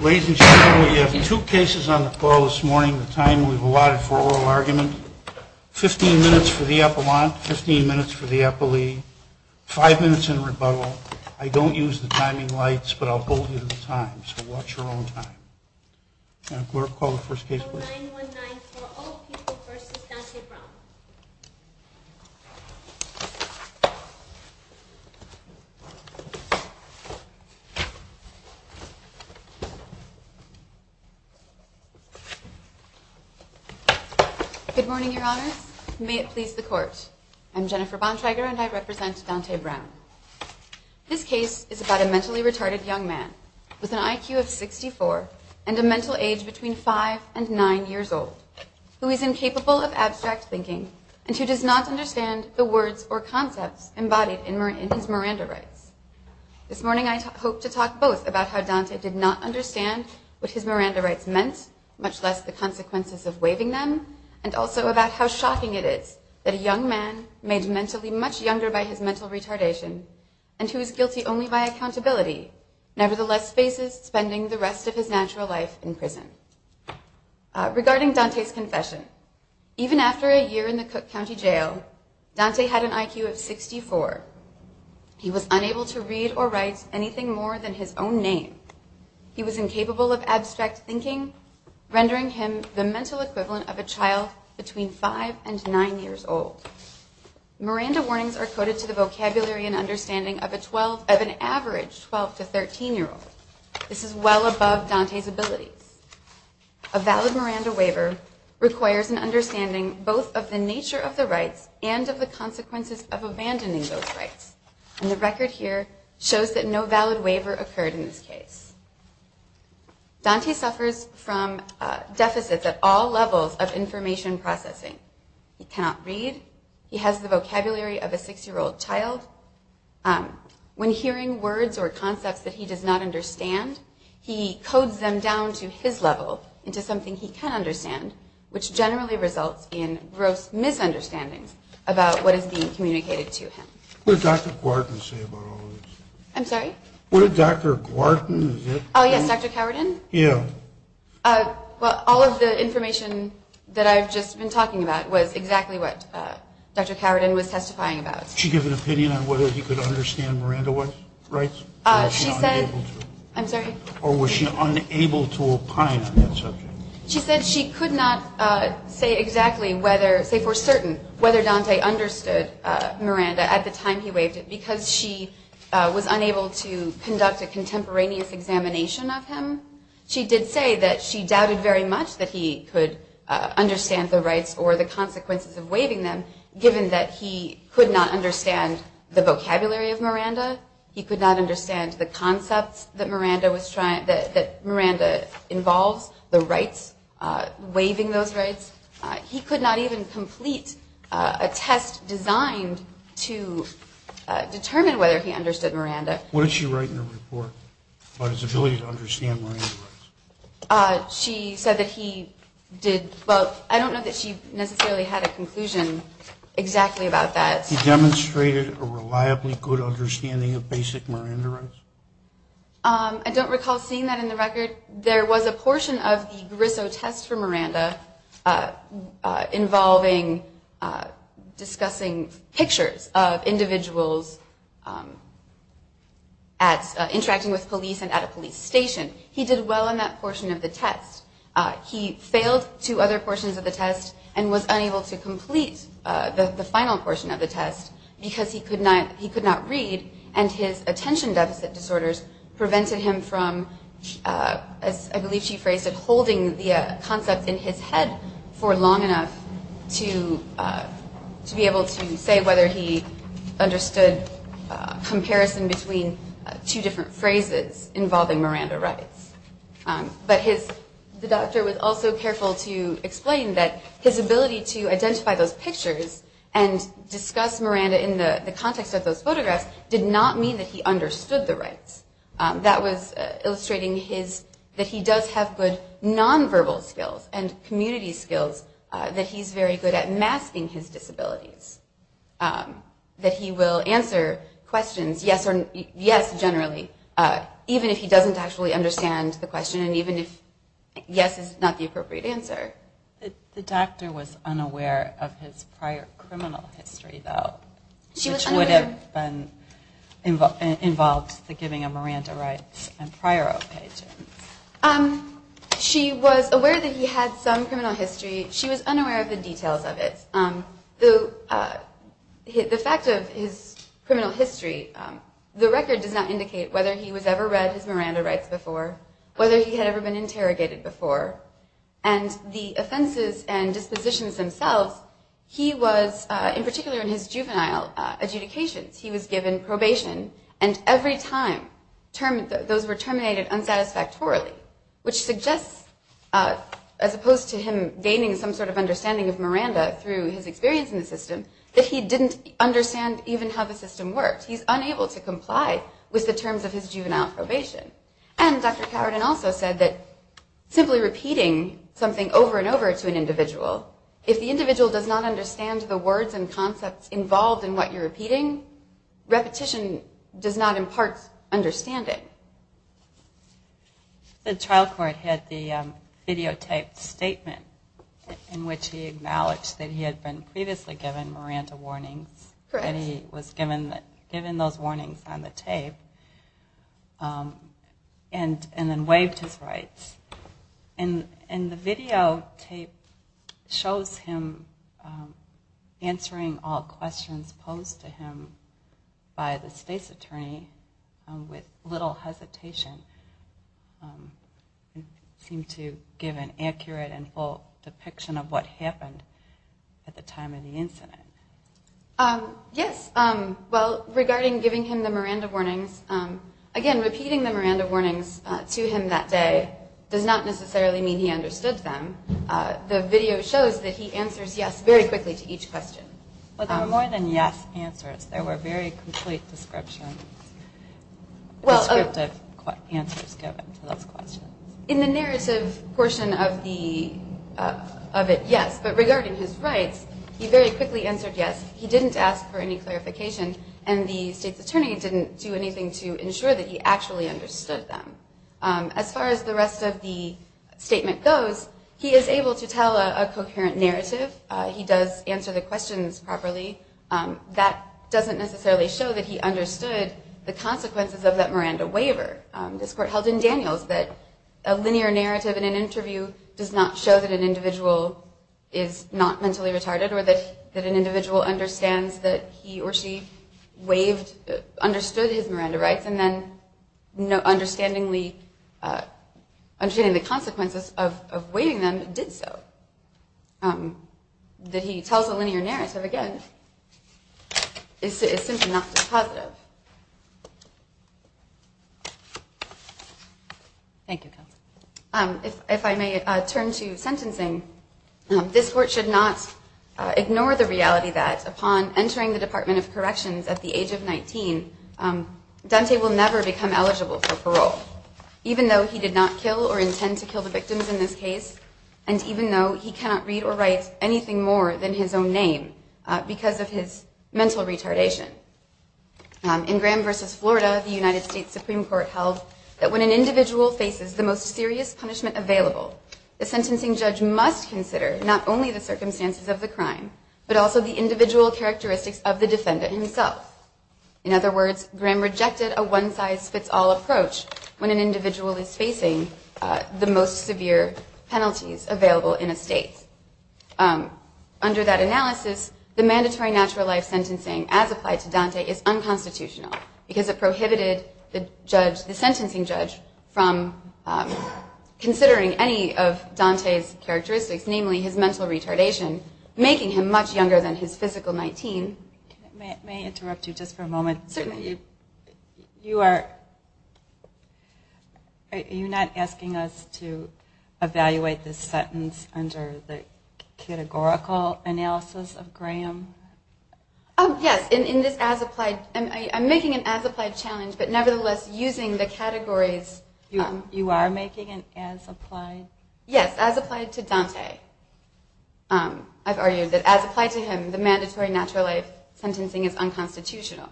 Ladies and gentlemen, we have two cases on the call this morning, the time we've allotted for oral argument. Fifteen minutes for the Appellant, fifteen minutes for the Appellee, five minutes in rebuttal. I don't use the timing lights, but I'll bolt you to the time, so watch your own time. Case No. 9194, Old People v. Dante Brown Good morning, Your Honors. May it please the Court, I'm Jennifer Bontrager and I represent Dante Brown. This case is about a mentally retarded young man with an IQ of 64 and a mental age between 5 and 9 years old, who is incapable of abstract thinking and who does not understand the words or concepts embodied in his Miranda Rites. This morning I hope to talk both about how Dante did not understand what his Miranda Rites meant, much less the consequences of waiving them, and also about how shocking it is that a young man, made mentally much younger by his mental retardation, and who is guilty only by accountability, nevertheless faces spending the rest of his natural life in prison. Regarding Dante's confession, even after a year in the Cook County Jail, Dante had an IQ of 64. He was unable to read or write anything more than his own name. He was incapable of abstract thinking, rendering him the mental equivalent of a child between 5 and 9 years old. Miranda warnings are coded to the vocabulary and understanding of an average 12 to 13 year old. This is well above Dante's abilities. A valid Miranda waiver requires an understanding both of the nature of the rites and of the consequences of abandoning those rites. And the record here shows that no valid waiver occurred in this case. Dante suffers from deficits at all levels of information processing. He cannot read. He has the vocabulary of a 6 year old child. When hearing words or concepts that he does not understand, he codes them down to his level into something he can understand, which generally results in gross misunderstandings about what is being communicated to him. What did Dr. Gwarden say about all of this? I'm sorry? What did Dr. Gwarden say? Oh yes, Dr. Cowardin? Yeah. Well, all of the information that I've just been talking about was exactly what Dr. Cowardin was testifying about. Did she give an opinion on whether he could understand Miranda rights? She said... Or was she unable to? I'm sorry? Or was she unable to opine on that subject? She said she could not say exactly whether, say for certain, whether Dante understood Miranda at the time he waived it because she was unable to conduct a contemporaneous examination of him. She did say that she doubted very much that he could understand the rights or the consequences of waiving them, given that he could not understand the vocabulary of Miranda. He could not understand the concepts that Miranda involves, the rights, waiving those rights. He could not even complete a test designed to determine whether he understood Miranda. What did she write in her report about his ability to understand Miranda rights? She said that he did both. I don't know that she necessarily had a conclusion exactly about that. He demonstrated a reliably good understanding of basic Miranda rights? There was a portion of the Grisso test for Miranda involving discussing pictures of individuals interacting with police and at a police station. He did well in that portion of the test. He failed two other portions of the test and was unable to complete the final portion of the test because he could not read, and his attention deficit disorders prevented him from, as I believe she phrased it, holding the concept in his head for long enough to be able to say whether he understood comparison between two different phrases involving Miranda rights. But the doctor was also careful to explain that his ability to identify those pictures and discuss Miranda in the context of those photographs did not mean that he understood the rights. That was illustrating that he does have good nonverbal skills and community skills, that he's very good at masking his disabilities, that he will answer questions yes generally, even if he doesn't actually understand the question and even if yes is not the appropriate answer. The doctor was unaware of his prior criminal history though, which would have involved the giving of Miranda rights and prior occasions. She was aware that he had some criminal history. She was unaware of the details of it. The fact of his criminal history, the record does not indicate whether he was ever read his Miranda rights before, whether he had ever been interrogated before, and the offenses and dispositions themselves, he was, in particular in his juvenile adjudications, he was given probation and every time those were terminated unsatisfactorily, which suggests, as opposed to him gaining some sort of understanding of Miranda through his experience in the system, that he didn't understand even how the system worked. He's unable to comply with the terms of his juvenile probation. And Dr. Cowardin also said that simply repeating something over and over to an individual, if the individual does not understand the words and concepts involved in what you're repeating, repetition does not impart understanding. The trial court had the videotaped statement in which he acknowledged that he had been previously given Miranda warnings. Correct. He was given those warnings on the tape and then waived his rights. And the videotape shows him answering all questions posed to him by the state's attorney with little hesitation. It seemed to give an accurate and full depiction of what happened at the time of the incident. Yes, well, regarding giving him the Miranda warnings, again repeating the Miranda warnings to him that day does not necessarily mean he understood them. The video shows that he answers yes very quickly to each question. But there were more than yes answers. There were very complete descriptions, descriptive answers given to those questions. In the narrative portion of it, yes. But regarding his rights, he very quickly answered yes. He didn't ask for any clarification. And the state's attorney didn't do anything to ensure that he actually understood them. As far as the rest of the statement goes, he is able to tell a coherent narrative. He does answer the questions properly. That doesn't necessarily show that he understood the consequences of that Miranda waiver. This court held in Daniels that a linear narrative in an interview does not show that an individual is not mentally retarded or that an individual understands that he or she understood his Miranda rights and then understanding the consequences of waiving them did so. That he tells a linear narrative, again, is simply not just positive. If I may turn to sentencing, this court should not ignore the reality that upon entering the Department of Corrections at the age of 19, Dante will never become eligible for parole. Even though he did not kill or intend to kill the victims in this case, and even though he cannot read or write anything more than his own name because of his mental retardation. In Graham v. Florida, the United States Supreme Court held that when an individual faces the most serious punishment available, the sentencing judge must consider not only the circumstances of the crime, but also the individual characteristics of the defendant himself. In other words, Graham rejected a one-size-fits-all approach when an individual is facing the most severe penalties available in a state. Under that analysis, the mandatory natural life sentencing as applied to Dante is unconstitutional because it prohibited the sentencing judge from considering any of Dante's characteristics, namely his mental retardation, making him much younger than his physical 19. May I interrupt you just for a moment? Certainly. You are, are you not asking us to evaluate this sentence under the categorical analysis of Graham? Yes, in this as applied, I'm making an as applied challenge, but nevertheless using the categories. You are making an as applied? Yes, as applied to Dante. I've argued that as applied to him, the mandatory natural life sentencing is unconstitutional.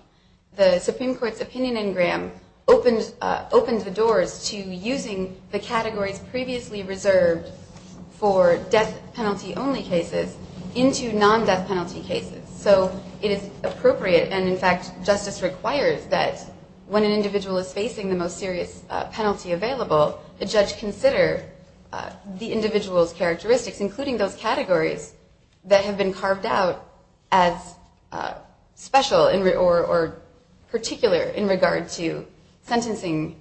The Supreme Court's opinion in Graham opened the doors to using the categories previously reserved for death penalty only cases into non-death penalty cases. So it is appropriate, and in fact, justice requires that when an individual is facing the most serious penalty available, the judge consider the individual's characteristics, including those categories that have been carved out as special or particular in regard to sentencing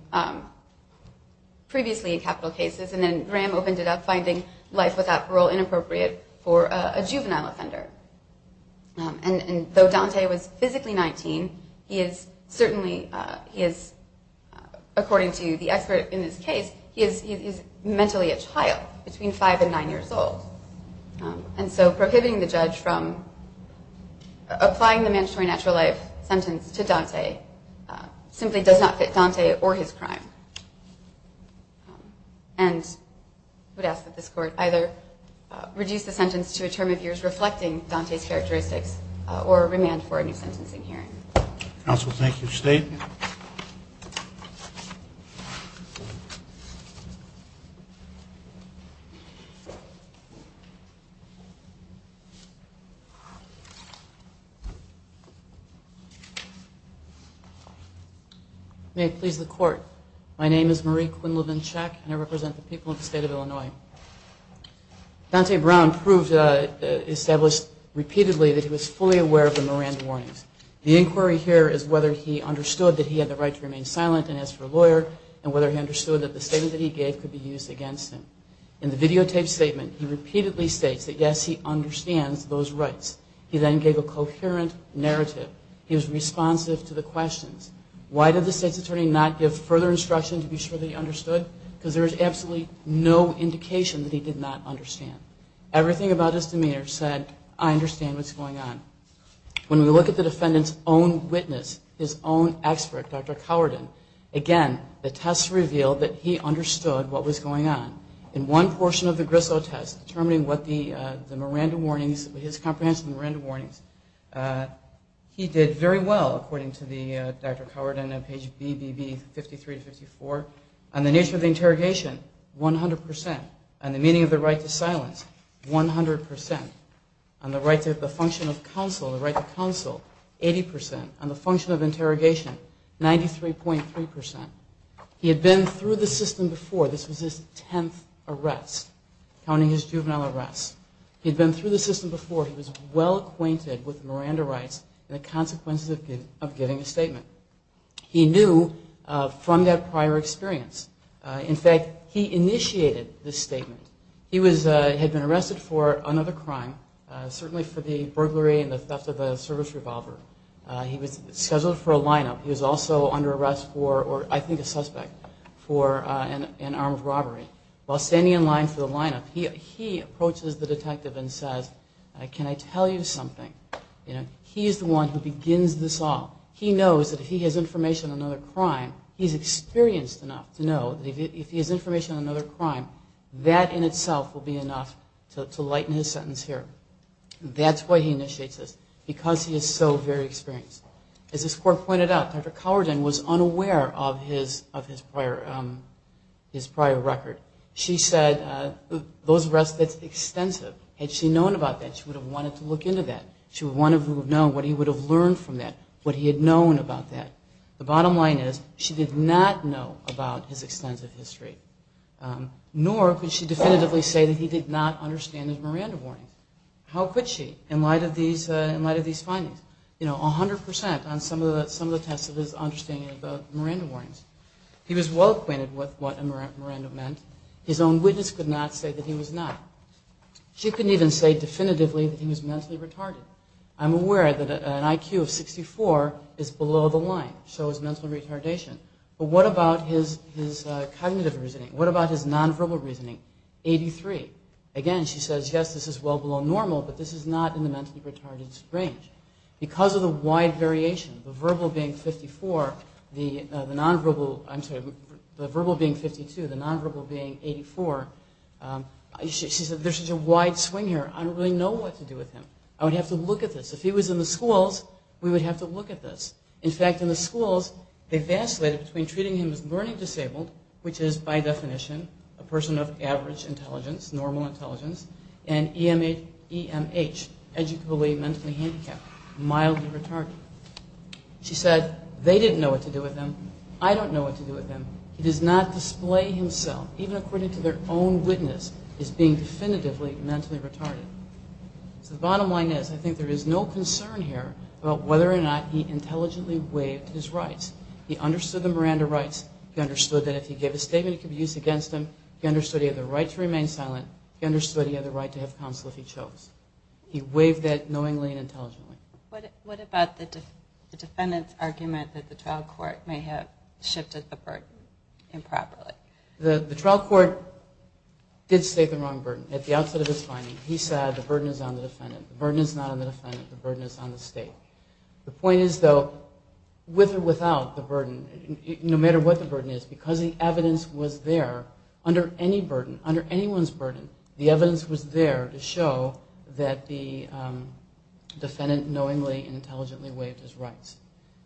previously in capital cases. And then Graham opened it up, finding life without parole inappropriate for a juvenile offender. And though Dante was physically 19, he is certainly, he is, according to the expert in this case, he is mentally a child between five and nine years old. And so prohibiting the judge from applying the mandatory natural life sentence to Dante simply does not fit Dante or his crime. And I would ask that this court either reduce the sentence to a term of years reflecting Dante's characteristics or remand for a new sentencing hearing. Counsel, thank you. State. Thank you. May it please the court. My name is Marie Quinlivan-Chek, and I represent the people of the state of Illinois. Dante Brown proved, established repeatedly that he was fully aware of the Miranda warnings. The inquiry here is whether he understood that he had the right to remain silent and ask for a lawyer and whether he understood that the statement that he gave could be used against him. In the videotaped statement, he repeatedly states that, yes, he understands those rights. He then gave a coherent narrative. He was responsive to the questions. Why did the state's attorney not give further instruction to be sure that he understood? Because there is absolutely no indication that he did not understand. Everything about his demeanor said, I understand what's going on. When we look at the defendant's own witness, his own expert, Dr. Cowardin, again, the test revealed that he understood what was going on. In one portion of the Griswold test, determining what the Miranda warnings, his comprehensive Miranda warnings, he did very well, according to Dr. Cowardin, on page BBB 53 to 54. On the nature of the interrogation, 100 percent. On the meaning of the right to silence, 100 percent. On the right to the function of counsel, the right to counsel, 80 percent. On the function of interrogation, 93.3 percent. He had been through the system before. This was his tenth arrest, counting his juvenile arrests. He had been through the system before. He was well acquainted with Miranda rights and the consequences of giving a statement. He knew from that prior experience. In fact, he initiated the statement. He had been arrested for another crime, certainly for the burglary and the theft of a service revolver. He was scheduled for a lineup. He was also under arrest for, or I think a suspect, for an armed robbery. While standing in line for the lineup, he approaches the detective and says, can I tell you something? He is the one who begins this all. He knows that if he has information on another crime, he's experienced enough to know that if he has information on another crime, that in itself will be enough to lighten his sentence here. That's why he initiates this, because he is so very experienced. As this court pointed out, Dr. Cowardin was unaware of his prior record. She said those arrests that's extensive, had she known about that, she would have wanted to look into that. She would have wanted to know what he would have learned from that, what he had known about that. The bottom line is, she did not know about his extensive history. Nor could she definitively say that he did not understand his Miranda warnings. How could she, in light of these findings? You know, 100% on some of the tests of his understanding of Miranda warnings. He was well acquainted with what a Miranda meant. His own witness could not say that he was not. She couldn't even say definitively that he was mentally retarded. I'm aware that an IQ of 64 is below the line, shows mental retardation. But what about his cognitive reasoning? What about his nonverbal reasoning? 83. Again, she says, yes, this is well below normal, but this is not in the mentally retarded range. Because of the wide variation, the verbal being 54, the nonverbal being 52, the nonverbal being 84, there's such a wide swing here. I don't really know what to do with him. I would have to look at this. If he was in the schools, we would have to look at this. In fact, in the schools, they vacillated between treating him as learning disabled, which is, by definition, a person of average intelligence, normal intelligence, and EMH, educally mentally handicapped, mildly retarded. She said, they didn't know what to do with him. I don't know what to do with him. He does not display himself, even according to their own witness, as being definitively mentally retarded. So the bottom line is, I think there is no concern here about whether or not he intelligently waived his rights. He understood the Miranda rights. He understood that if he gave a statement, it could be used against him. He understood he had the right to remain silent. He understood he had the right to have counsel if he chose. He waived that knowingly and intelligently. What about the defendant's argument that the trial court may have shifted the burden improperly? The trial court did state the wrong burden. At the outset of his finding, he said, the burden is on the defendant. The burden is not on the defendant. The burden is on the state. The point is, though, with or without the burden, no matter what the burden is, because the evidence was there under any burden, under anyone's burden, the evidence was there to show that the defendant knowingly and intelligently waived his rights.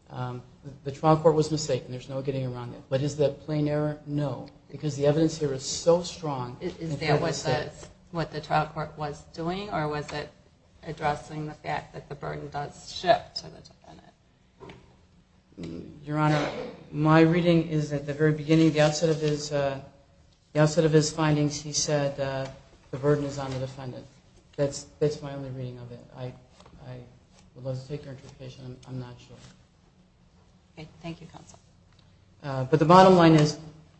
The trial court was mistaken. There's no getting around it. But is that plain error? No, because the evidence here is so strong. Is that what the trial court was doing, or was it addressing the fact that the burden does shift to the defendant? Your Honor, my reading is at the very beginning, the outset of his findings, he said, the burden is on the defendant. That's my only reading of it. I would love to take your interpretation. I'm not sure. Okay. Thank you, counsel. But the bottom line is,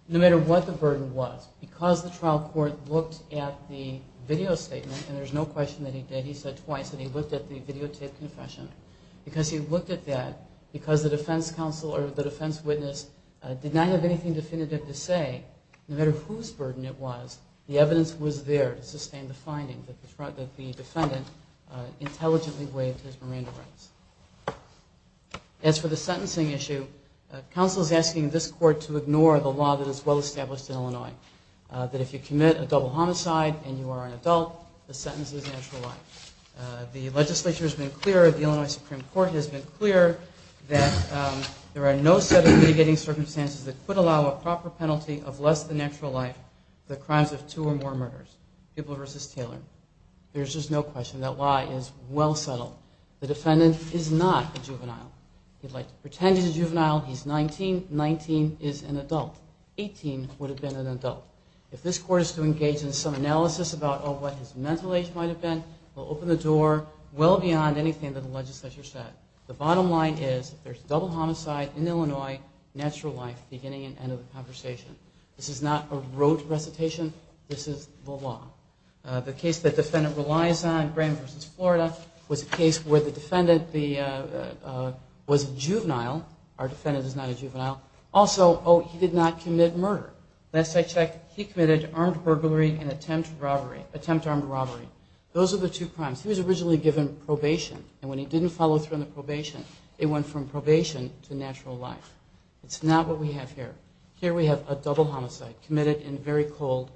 no matter what the burden was, because the trial court looked at the video statement, and there's no question that he did, he said twice, that he looked at the videotaped confession, because he looked at that, because the defense counsel or the defense witness did not have anything definitive to say, no matter whose burden it was, the evidence was there to sustain the finding that the defendant intelligently waived his Miranda rights. As for the sentencing issue, counsel is asking this court to ignore the law that is well-established in Illinois, that if you commit a double homicide and you are an adult, the sentence is natural life. The legislature has been clear, the Illinois Supreme Court has been clear, that there are no set of mitigating circumstances that could allow a proper penalty of less than natural life for the crimes of two or more murders. Hubel v. Taylor. There's just no question. That law is well settled. The defendant is not a juvenile. He'd like to pretend he's a juvenile. He's 19. 19 is an adult. 18 would have been an adult. If this court is to engage in some analysis about what his mental age might have been, it will open the door well beyond anything that the legislature said. The bottom line is there's double homicide in Illinois, natural life beginning and end of the conversation. This is not a rote recitation. This is the law. The case the defendant relies on, Graham v. Florida, was a case where the defendant was a juvenile. Our defendant is not a juvenile. Also, oh, he did not commit murder. He committed armed burglary and attempt armed robbery. Those are the two crimes. He was originally given probation, and when he didn't follow through on the probation, it went from probation to natural life. It's not what we have here. Here we have a double homicide committed in very cold,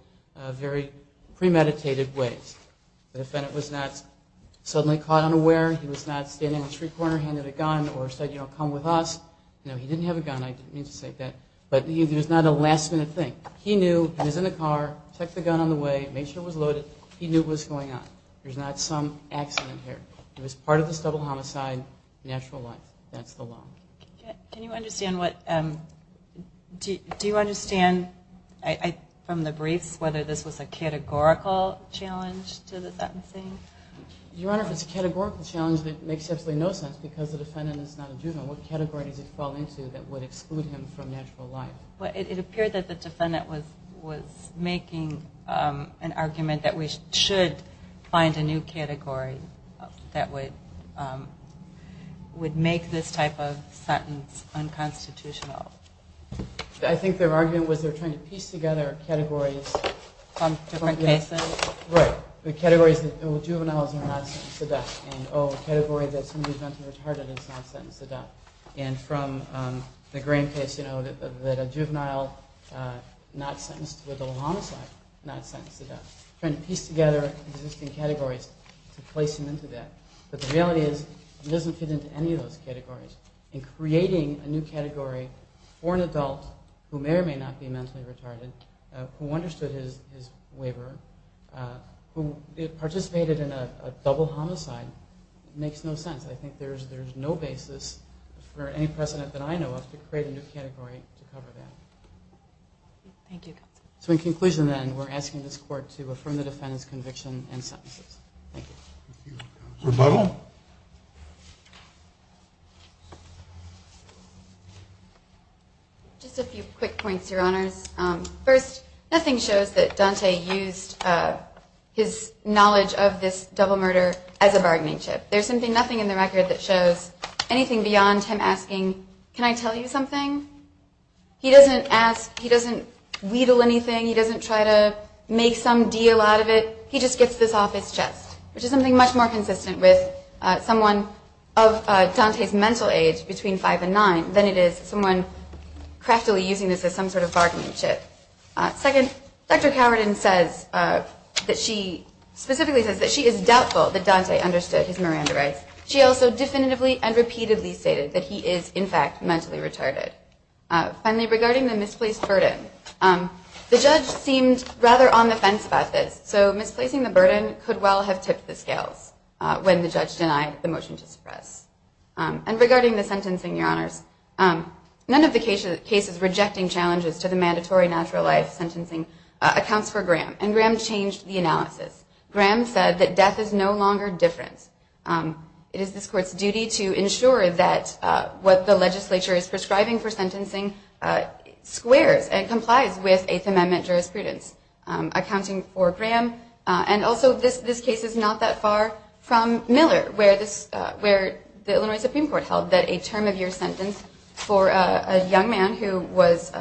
very premeditated ways. The defendant was not suddenly caught unaware. He was not standing in a street corner, handed a gun, or said, you know, come with us. No, he didn't have a gun. I didn't mean to say that. But it was not a last minute thing. He knew. He was in the car, checked the gun on the way, made sure it was loaded. He knew what was going on. There's not some accident here. It was part of this double homicide, natural life. That's the law. Can you understand what, do you understand from the briefs whether this was a categorical challenge to the sentencing? Your Honor, if it's a categorical challenge, that makes absolutely no sense because the defendant is not a juvenile. What category does he fall into that would exclude him from natural life? It appeared that the defendant was making an argument that we should find a new category that would make this type of sentence unconstitutional. I think their argument was they were trying to piece together categories. From different cases? Right. The categories that, oh, juveniles are not sentenced to death. And, oh, the category that somebody is mentally retarded is not sentenced to death. And from the grain case, you know, that a juvenile not sentenced with a homicide is not sentenced to death. Trying to piece together existing categories to place him into that. But the reality is he doesn't fit into any of those categories. In creating a new category for an adult who may or may not be mentally retarded, who understood his waiver, who participated in a double homicide, makes no sense. I think there's no basis for any precedent that I know of to create a new category to cover that. Thank you. So in conclusion, then, we're asking this court to affirm the defendant's conviction and sentences. Thank you. Thank you. Rebuttal? Just a few quick points, Your Honors. First, nothing shows that Dante used his knowledge of this double murder as a bargaining chip. There's simply nothing in the record that shows anything beyond him asking, can I tell you something? He doesn't ask. He doesn't wheedle anything. He doesn't try to make some deal out of it. He just gets this off his chest, which is something much more consistent with someone of Dante's mental age, between five and nine, than it is someone craftily using this as some sort of bargaining chip. Second, Dr. Cowardin specifically says that she is doubtful that Dante understood his Miranda rights. She also definitively and repeatedly stated that he is, in fact, mentally retarded. Finally, regarding the misplaced burden, the judge seemed rather on the fence about this, so misplacing the burden could well have tipped the scales when the judge denied the motion to suppress. And regarding the sentencing, Your Honors, none of the cases rejecting challenges to the mandatory natural life sentencing accounts for Graham, and Graham changed the analysis. Graham said that death is no longer difference. It is this court's duty to ensure that what the legislature is prescribing for sentencing squares and complies with Eighth Amendment jurisprudence, accounting for Graham. And also, this case is not that far from Miller, where the Illinois Supreme Court held that a term-of-year sentence for a young man who was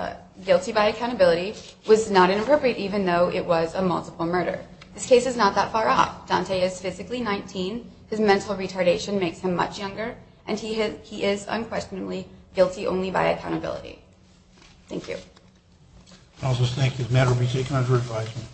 guilty by accountability was not inappropriate, even though it was a multiple murder. This case is not that far off. Dante is physically 19, his mental retardation makes him much younger, and he is unquestionably guilty only by accountability. Thank you. I'll just thank you. The matter will be taken under advisement.